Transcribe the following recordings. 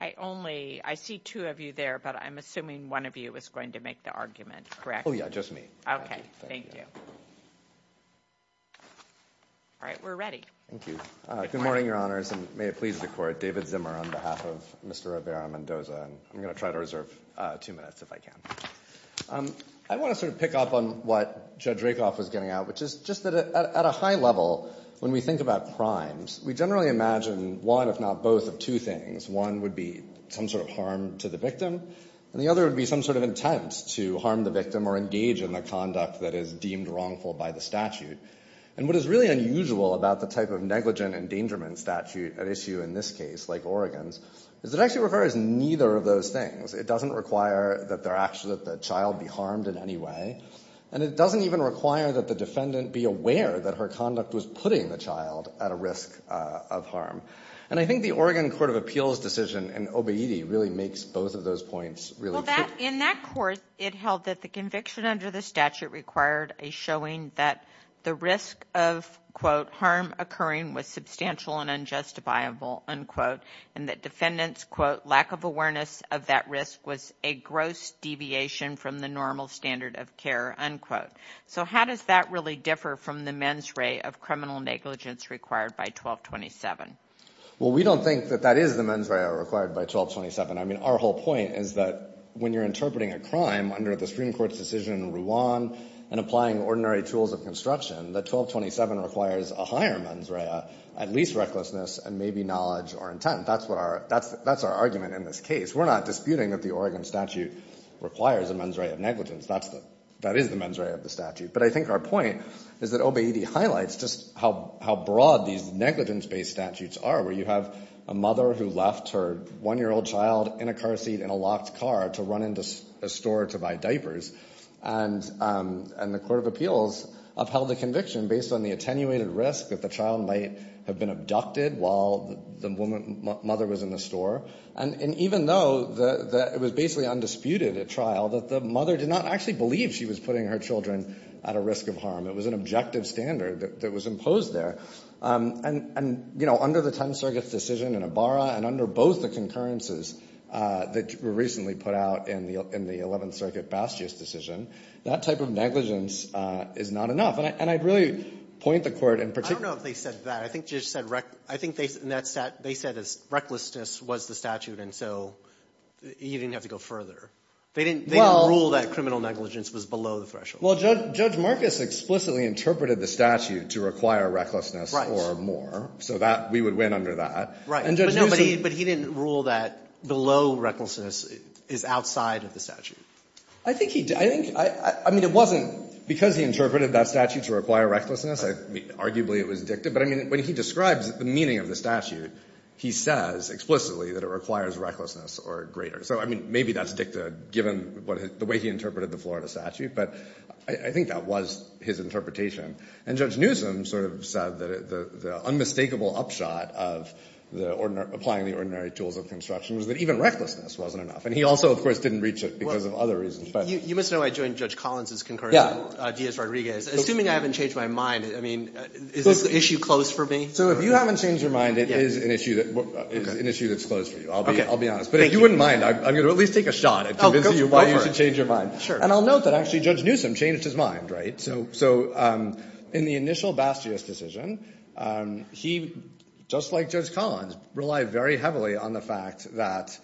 I only I see two of you there, but I'm assuming one of you is going to make the argument correct Oh, yeah, just me. Okay All right, we're ready, thank you good morning your honors and may it please the court David Zimmer on behalf of mr Rivera Mendoza and I'm gonna try to reserve two minutes if I can I want to sort of pick up on what judge Rakoff was getting out Which is just that at a high level when we think about crimes We generally imagine one if not both of two things one would be some sort of harm to the victim And the other would be some sort of intent to harm the victim or engage in the conduct that is deemed wrongful by the statute And what is really unusual about the type of negligent endangerment statute at issue in this case like Oregon's Is it actually refers neither of those things? It doesn't require that they're actually that the child be harmed in any way And it doesn't even require that the defendant be aware that her conduct was putting the child at a risk of harm And I think the Oregon Court of Appeals decision and obedi really makes both of those points really well that in that course it held that the conviction under the statute required a showing that the risk of Quote harm occurring was substantial and unjustifiable Unquote and that defendants quote lack of awareness of that risk was a gross Deviation from the normal standard of care unquote so how does that really differ from the mens rea of criminal negligence required by? 1227 well we don't think that that is the mens rea required by 1227 I mean our whole point is that when you're interpreting a crime under the Supreme Court's decision in Rwanda and Applying ordinary tools of construction that 1227 requires a higher mens rea at least recklessness and maybe knowledge or intent That's what our that's that's our argument in this case We're not disputing that the Oregon statute requires a mens rea of negligence That's the that is the mens rea of the statute But I think our point is that obedi highlights just how how broad these negligence based statutes are where you have a mother who? left her one-year-old child in a car seat in a locked car to run into a store to buy diapers and And the Court of Appeals of held the conviction based on the attenuated risk that the child might have been abducted While the woman mother was in the store and and even though It was basically undisputed at trial that the mother did not actually believe she was putting her children at a risk of harm It was an objective standard that was imposed there And and you know under the 10th Circuit's decision in a barra and under both the concurrences That were recently put out in the in the 11th Circuit Bastia's decision that type of negligence Is not enough and I'd really point the court in particularly said that I think just said I think they said that's that they said as recklessness was the statute and so You didn't have to go further. They didn't well rule that criminal negligence was below the threshold Well judge judge Marcus explicitly interpreted the statute to require recklessness right or more so that we would win under that right? But he didn't rule that below recklessness is outside of the statute I think he did I think I mean it wasn't because he interpreted that statute to require recklessness Arguably it was dicta, but I mean when he describes the meaning of the statute He says explicitly that it requires recklessness or greater So I mean maybe that's dicta given what the way he interpreted the Florida statute but I think that was his interpretation and judge Newsom sort of said that the unmistakable upshot of The ordinary applying the ordinary tools of construction was that even recklessness wasn't enough and he also of course didn't reach it because of other Reasons, but you must know I joined judge Collins's concur. Yeah ideas Rodriguez assuming I haven't changed my mind I mean is this the issue closed for me? So if you haven't changed your mind, it is an issue that An issue that's closed for you. I'll be I'll be honest, but if you wouldn't mind I'm gonna at least take a shot at convincing you why you should change your mind sure and I'll note that actually judge Newsom changed His mind right so so in the initial Bastia's decision he just like judge Collins relied very heavily on the fact that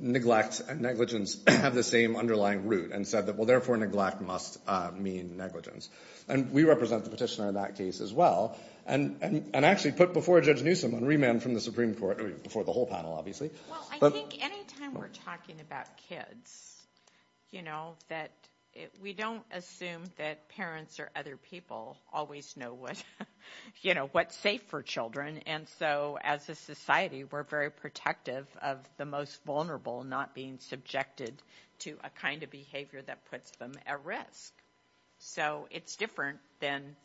Neglect and negligence have the same underlying root and said that well therefore neglect must mean negligence And we represent the petitioner in that case as well And and actually put before judge Newsom on remand from the Supreme Court before the whole panel obviously You know that We don't assume that parents or other people always know what you know What's safe for children and so as a society? We're very protective of the most vulnerable not being subjected to a kind of behavior that puts them at risk So it's different than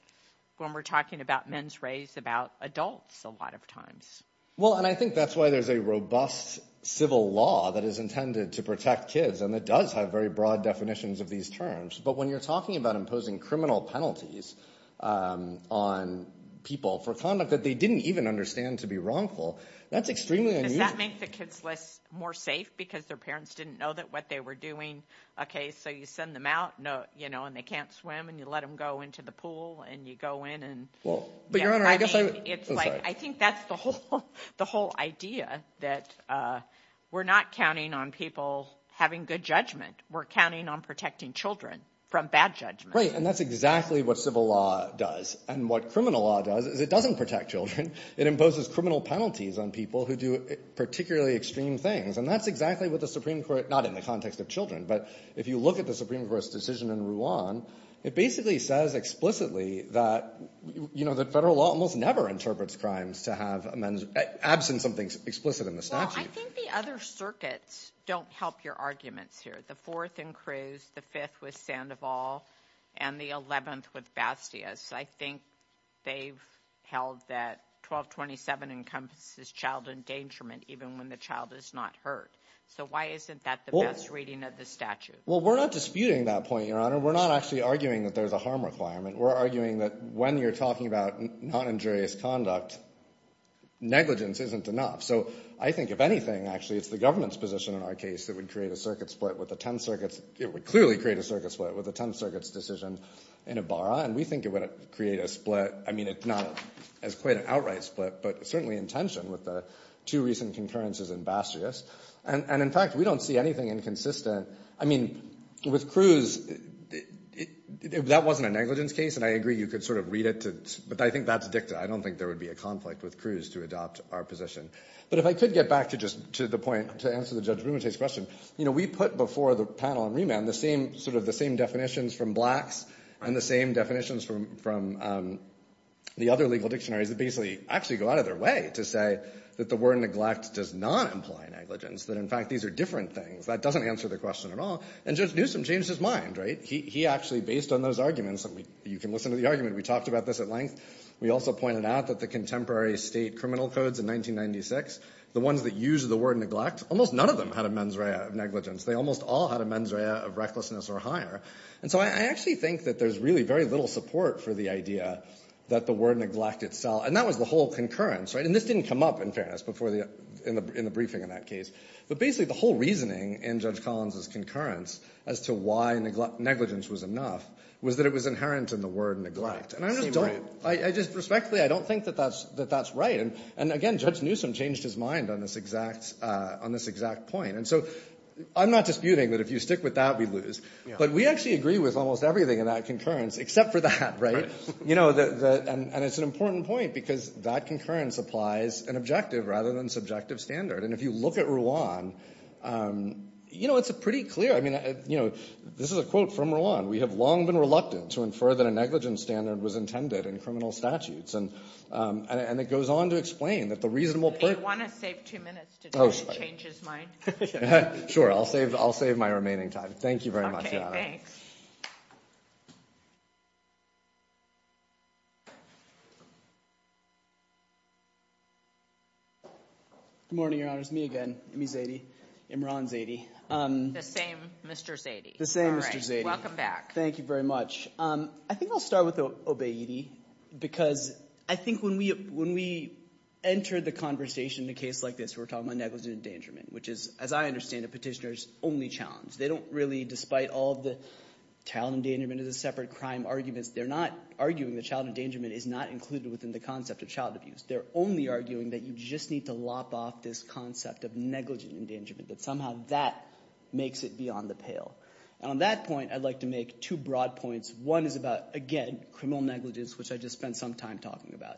when we're talking about men's race about adults a lot of times well And I think that's why there's a robust Civil law that is intended to protect kids and that does have very broad definitions of these terms But when you're talking about imposing criminal penalties on People for conduct that they didn't even understand to be wrongful That's extremely that make the kids less more safe because their parents didn't know that what they were doing Okay, so you send them out no you know and they can't swim and you let them go into the pool And you go in and well, but your honor. I guess it's like. I think that's the whole the whole idea that We're not counting on people having good judgment We're counting on protecting children from bad judgment, right? And that's exactly what civil law does and what criminal law does is it doesn't protect children it imposes criminal penalties on people who do? Particularly extreme things and that's exactly what the Supreme Court not in the context of children But if you look at the Supreme Court's decision in Rouen it basically says explicitly that You know that federal law almost never interprets crimes to have a man's absence of things explicit in the statute Circuits don't help your arguments here the fourth and Cruz the fifth with Sandoval and the 11th with Bastia's I think They've held that 1227 encompasses child endangerment even when the child is not hurt So why isn't that the most reading of the statute? Well? We're not disputing that point your honor We're not actually arguing that there's a harm requirement. We're arguing that when you're talking about not injurious conduct Negligence isn't enough so I think if anything actually it's the government's position in our case that would create a circuit split with the 10th Circuits it would clearly create a circuit split with the 10th circuits decision in a Barra And we think it would create a split I mean It's not as quite an outright split But certainly intention with the two recent concurrences in Bastia's and and in fact we don't see anything inconsistent. I mean with Cruz That wasn't a negligence case and I agree you could sort of read it too, but I think that's dicta I don't think there would be a conflict with Cruz to adopt our position But if I could get back to just to the point to answer the judge room It is question you know we put before the panel on remand the same sort of the same definitions from blacks and the same definitions from The other legal dictionaries that basically actually go out of their way to say that the word neglect does not imply negligence that in fact These are different things that doesn't answer the question at all and judge Newsom changed his mind, right? He actually based on those arguments that we you can listen to the argument we talked about this at length We also pointed out that the contemporary state criminal codes in 1996 the ones that use the word neglect almost none of them had a mens rea of negligence They almost all had a mens rea of recklessness or higher And so I actually think that there's really very little support for the idea That the word neglect itself and that was the whole concurrence, right? And this didn't come up in fairness before the in the briefing in that case But basically the whole reasoning in judge Collins's concurrence as to why neglect negligence was enough Was that it was inherent in the word neglect and I don't I just respectfully I don't think that that's that that's right. And and again judge Newsom changed his mind on this exact on this exact point And so I'm not disputing that if you stick with that we lose But we actually agree with almost everything in that concurrence except for the hat, right? You know that and it's an important point because that concurrence applies an objective rather than subjective standard and if you look at Ruan You know, it's a pretty clear. I mean, you know, this is a quote from Ruan We have long been reluctant to infer that a negligence standard was intended in criminal statutes And and it goes on to explain that the reasonable Sure, I'll save I'll save my remaining time. Thank you very much Thanks Good morning, your honor's me again me Zadie. I'm Ron Zadie The same. Mr. Zadie the same. Mr. Zadie. Welcome back. Thank you very much um, I think I'll start with the obeity because I think when we when we Entered the conversation in a case like this. We're talking about negligent endangerment, which is as I understand a petitioners only challenge They don't really despite all the child endangerment is a separate crime arguments They're not arguing the child endangerment is not included within the concept of child abuse They're only arguing that you just need to lop off this concept of negligent endangerment that somehow that Makes it beyond the pale and on that point I'd like to make two broad points one is about again criminal negligence, which I just spent some time talking about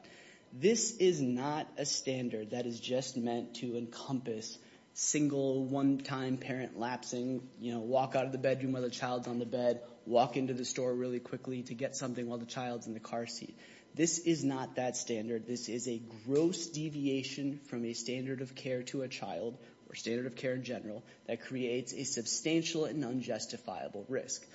This is not a standard that is just meant to encompass Single one-time parent lapsing, you know walk out of the bedroom where the child's on the bed Walk into the store really quickly to get something while the child's in the car seat. This is not that standard this is a gross deviation from a standard of care to a child or standard of care in general that creates a Substantial and unjustifiable risk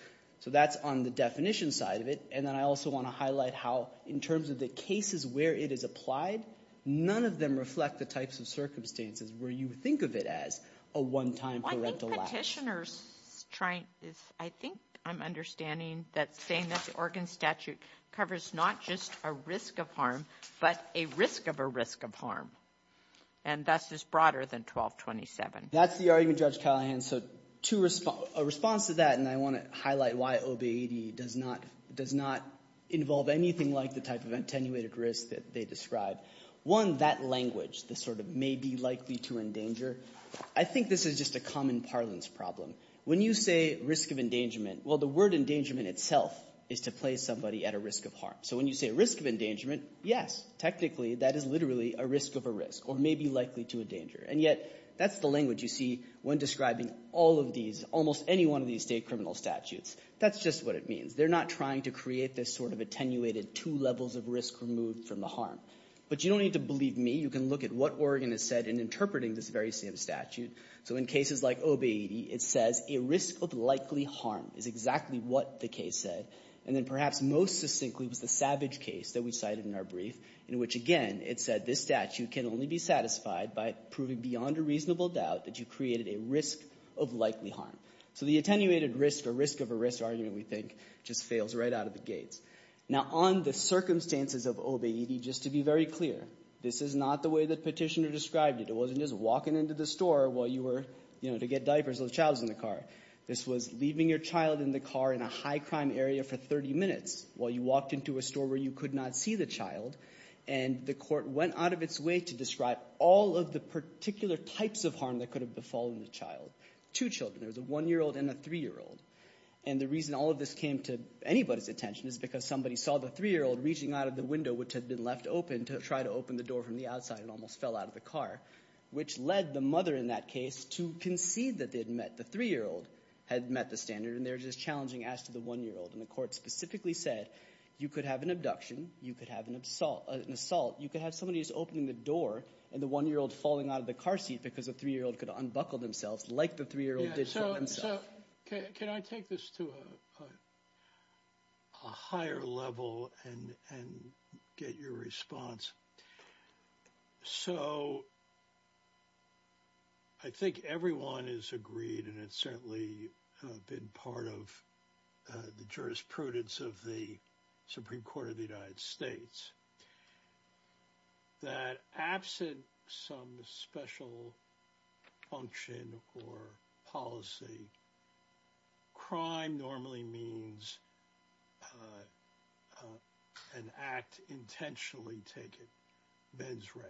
so that's on the definition side of it And then I also want to highlight how in terms of the cases where it is applied None of them reflect the types of circumstances where you would think of it as a one-time parental petitioners trying is I think I'm understanding that saying that the Oregon statute covers not just a risk of harm, but a risk of a risk of harm and That's just broader than 1227. That's the argument judge Callahan So to respond a response to that and I want to highlight why OB 80 does not does not Involve anything like the type of attenuated risk that they describe one that language the sort of may be likely to endanger I think this is just a common parlance problem when you say risk of endangerment Well, the word endangerment itself is to play somebody at a risk of harm. So when you say risk of endangerment Yes, technically that is literally a risk of a risk or may be likely to a danger and yet That's the language you see when describing all of these almost any one of these state criminal statutes. That's just what it means They're not trying to create this sort of attenuated two levels of risk removed from the harm But you don't need to believe me. You can look at what Oregon has said in interpreting this very same statute So in cases like OB 80 It says a risk of likely harm is exactly what the case said and then perhaps most succinctly was the savage case that we cited in our brief in which again It said this statute can only be satisfied by proving beyond a reasonable doubt that you created a risk of likely harm So the attenuated risk or risk of a risk argument we think just fails right out of the gates Now on the circumstances of OB 80 just to be very clear. This is not the way that petitioner described it It wasn't just walking into the store while you were you know to get diapers those child's in the car This was leaving your child in the car in a high-crime area for 30 minutes while you walked into a store where you could not see the child and The court went out of its way to describe all of the particular types of harm that could have befallen the child two children there's a one-year-old and a three-year-old and The reason all of this came to Anybody's attention is because somebody saw the three-year-old reaching out of the window which had been left open to try to open the door From the outside and almost fell out of the car Which led the mother in that case to concede that they'd met the three-year-old had met the standard and they're just challenging as to the One-year-old and the court specifically said you could have an abduction. You could have an assault an assault you could have somebody's opening the door and the one-year-old falling out of the car seat because a three-year-old could unbuckle themselves like the three-year-old did so himself Can I take this to a Higher level and and get your response So I Think everyone is agreed and it's certainly been part of the jurisprudence of the Supreme Court of the United States That absent some special Function or policy Crime normally means An act intentionally taken mens re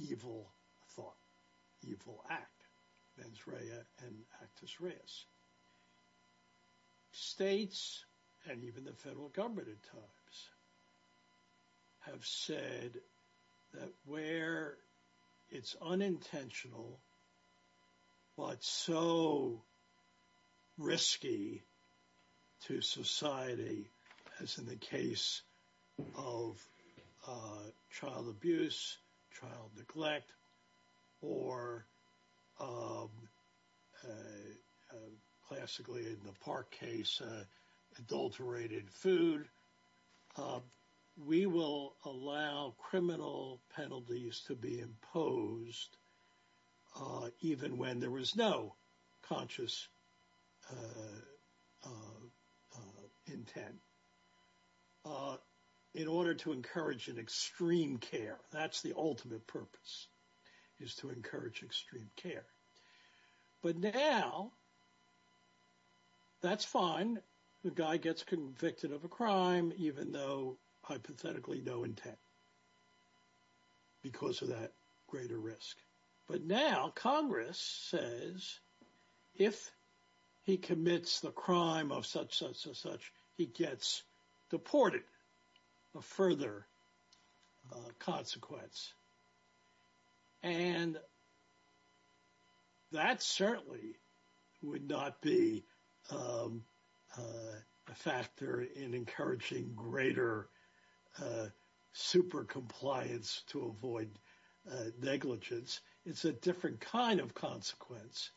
evil thought Evil act mens rea and actus reus States and even the federal government at times Have said that where It's unintentional What's so Risky to society as in the case of Child abuse child neglect or Classically in the park case adulterated food We will allow criminal penalties to be imposed Even when there was no conscious Intent In order to encourage an extreme care, that's the ultimate purpose is to encourage extreme care but now That's fine the guy gets convicted of a crime even though hypothetically no intent Because of that greater risk, but now Congress says if He commits the crime of such such as such he gets deported a further Consequence and And That certainly would not be a Factor in encouraging greater Super compliance to avoid Negligence it's a different kind of consequence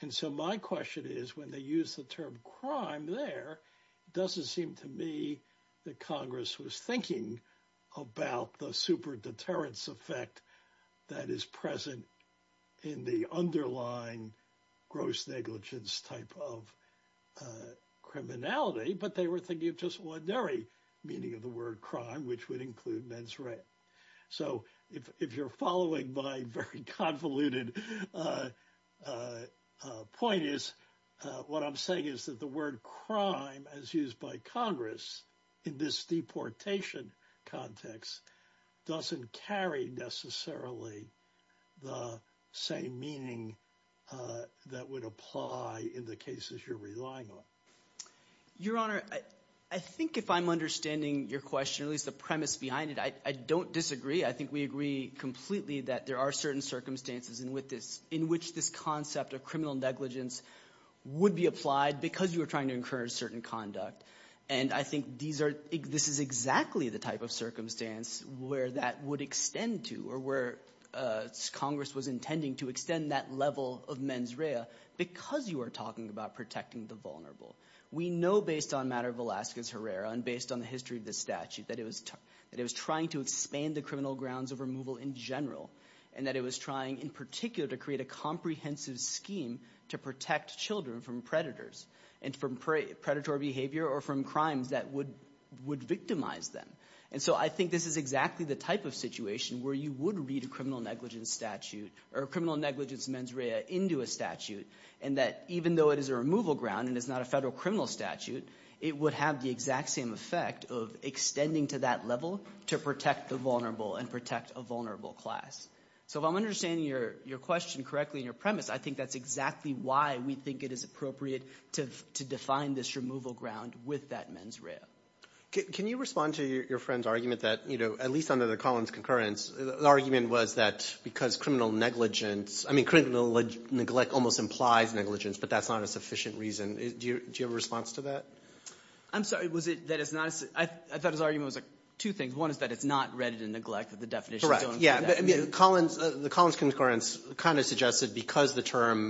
And so my question is when they use the term crime there Doesn't seem to me that Congress was thinking About the super deterrence effect that is present in the underlying gross negligence type of Criminality but they were thinking of just one very meaning of the word crime which would include men's rent So if you're following by very convoluted Point is What I'm saying is that the word crime as used by Congress in this deportation context Doesn't carry necessarily the same meaning That would apply in the cases you're relying on Your honor. I think if I'm understanding your question at least the premise behind it. I don't disagree I think we agree completely that there are certain circumstances and with this in which this concept of criminal negligence Would be applied because you were trying to encourage certain conduct And I think these are this is exactly the type of circumstance where that would extend to or where Congress was intending to extend that level of mens rea because you are talking about protecting the vulnerable We know based on matter of Alaska's Herrera and based on the history of the statute that it was That it was trying to expand the criminal grounds of removal in general and that it was trying in particular to create a comprehensive Scheme to protect children from predators and from predatory behavior or from crimes that would Would victimize them and so I think this is exactly the type of situation where you would read a criminal negligence statute or a criminal negligence mens rea into a statute and that Even though it is a removal ground and it's not a federal criminal statute It would have the exact same effect of extending to that level to protect the vulnerable and protect a vulnerable class So if I'm understanding your your question correctly in your premise I think that's exactly why we think it is appropriate to define this removal ground with that mens rea Can you respond to your friend's argument that you know, at least under the Collins concurrence the argument was that because criminal negligence I mean criminal neglect almost implies negligence, but that's not a sufficient reason. Do you have a response to that? I'm sorry. Was it that it's not I thought his argument was like two things one is that it's not read it in neglect of Correct. Yeah, I mean Collins the Collins concurrence kind of suggested because the term,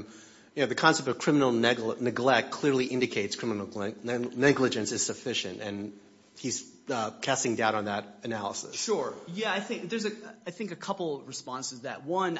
you know the concept of criminal neglect neglect clearly indicates criminal neglect and negligence is sufficient and he's Casting doubt on that analysis. Sure. Yeah, I think there's a I think a couple responses that one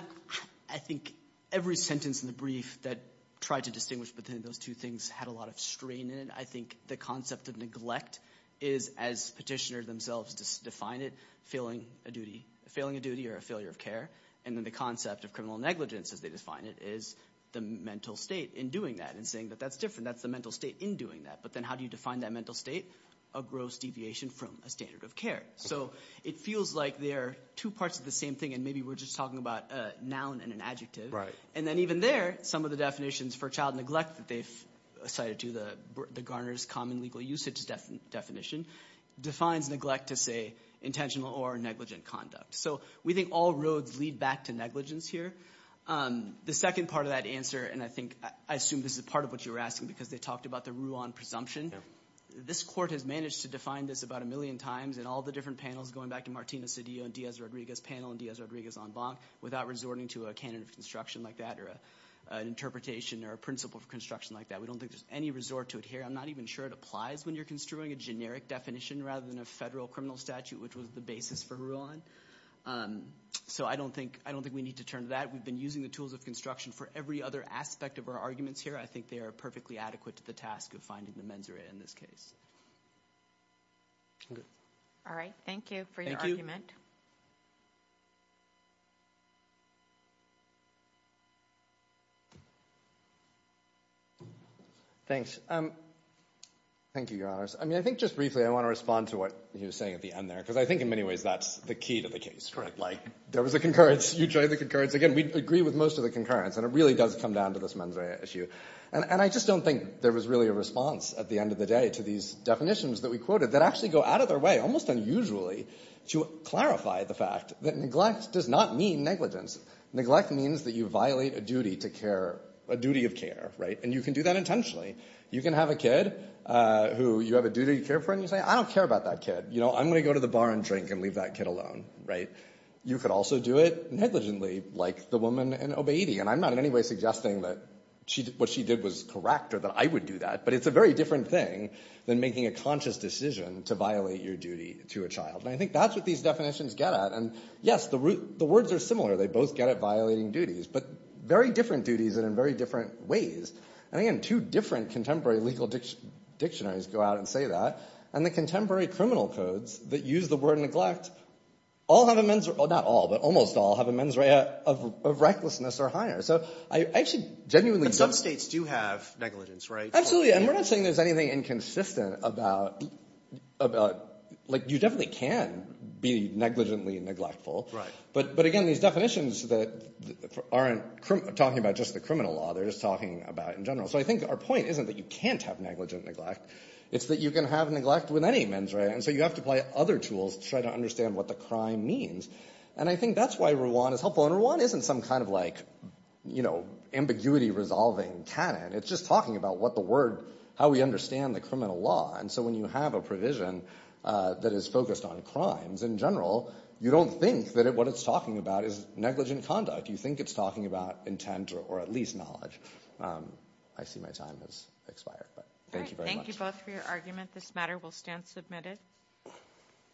I think every sentence in the brief that tried to distinguish between those two things had a lot of strain in it I think the concept of neglect is as petitioner themselves just define it failing a duty Failing a duty or a failure of care and then the concept of criminal negligence as they define it is The mental state in doing that and saying that that's different. That's the mental state in doing that But then how do you define that mental state a gross deviation from a standard of care? So it feels like there are two parts of the same thing and maybe we're just talking about noun and an adjective right and then even there some of the definitions for child neglect that they've Cited to the the Garner's common legal usage definition defines neglect to say Intentional or negligent conduct. So we think all roads lead back to negligence here The second part of that answer and I think I assume this is part of what you were asking because they talked about the Rouen presumption this court has managed to define this about a million times and all the different panels going back to Martina Cedillo and Diaz Rodriguez panel and Diaz Rodriguez on bonk without resorting to a candidate of construction like that or an Interpretation or a principle of construction like that. We don't think there's any resort to it here I'm not even sure it applies when you're construing a generic definition rather than a federal criminal statute, which was the basis for Rouen So I don't think I don't think we need to turn to that We've been using the tools of construction for every other aspect of our arguments here I think they are perfectly adequate to the task of finding the mens rea in this case All right, thank you for your argument You Thank you. I mean, I think just briefly I want to respond to what you're saying at the end there because I think in many ways That's the key to the case, right? Like there was a concurrence you try the concurrence again We agree with most of the concurrence and it really does come down to this mens rea issue And and I just don't think there was really a response at the end of the day to these Definitions that we quoted that actually go out of their way almost unusually to clarify the fact that neglect does not mean negligence Neglect means that you violate a duty to care a duty of care, right and you can do that intentionally you can have a kid Who you have a duty to care for and you say I don't care about that kid You know, I'm gonna go to the bar and drink and leave that kid alone, right? You could also do it negligently like the woman in obedi And I'm not in any way suggesting that she what she did was correct or that I would do that But it's a very different thing than making a conscious decision to violate your duty to a child And I think that's what these definitions get at and yes, the root the words are similar They both get at violating duties, but very different duties and in very different ways and I am two different contemporary legal Dictionaries go out and say that and the contemporary criminal codes that use the word neglect All have a men's or not all but almost all have a mens rea of Recklessness or higher so I actually genuinely some states do have negligence, right? Absolutely. And we're not saying there's anything inconsistent about About like you definitely can be negligently and neglectful, right? But but again these definitions that aren't talking about just the criminal law. They're just talking about in general So I think our point isn't that you can't have negligent neglect It's that you can have neglect with any mens rea and so you have to play other tools to try to understand what the crime Means and I think that's why we're one is helpful and one isn't some kind of like, you know ambiguity resolving canon It's just talking about what the word how we understand the criminal law. And so when you have a provision That is focused on crimes in general. You don't think that it what it's talking about is negligent conduct You think it's talking about intent or at least knowledge. I see my time has expired This matter will stand submitted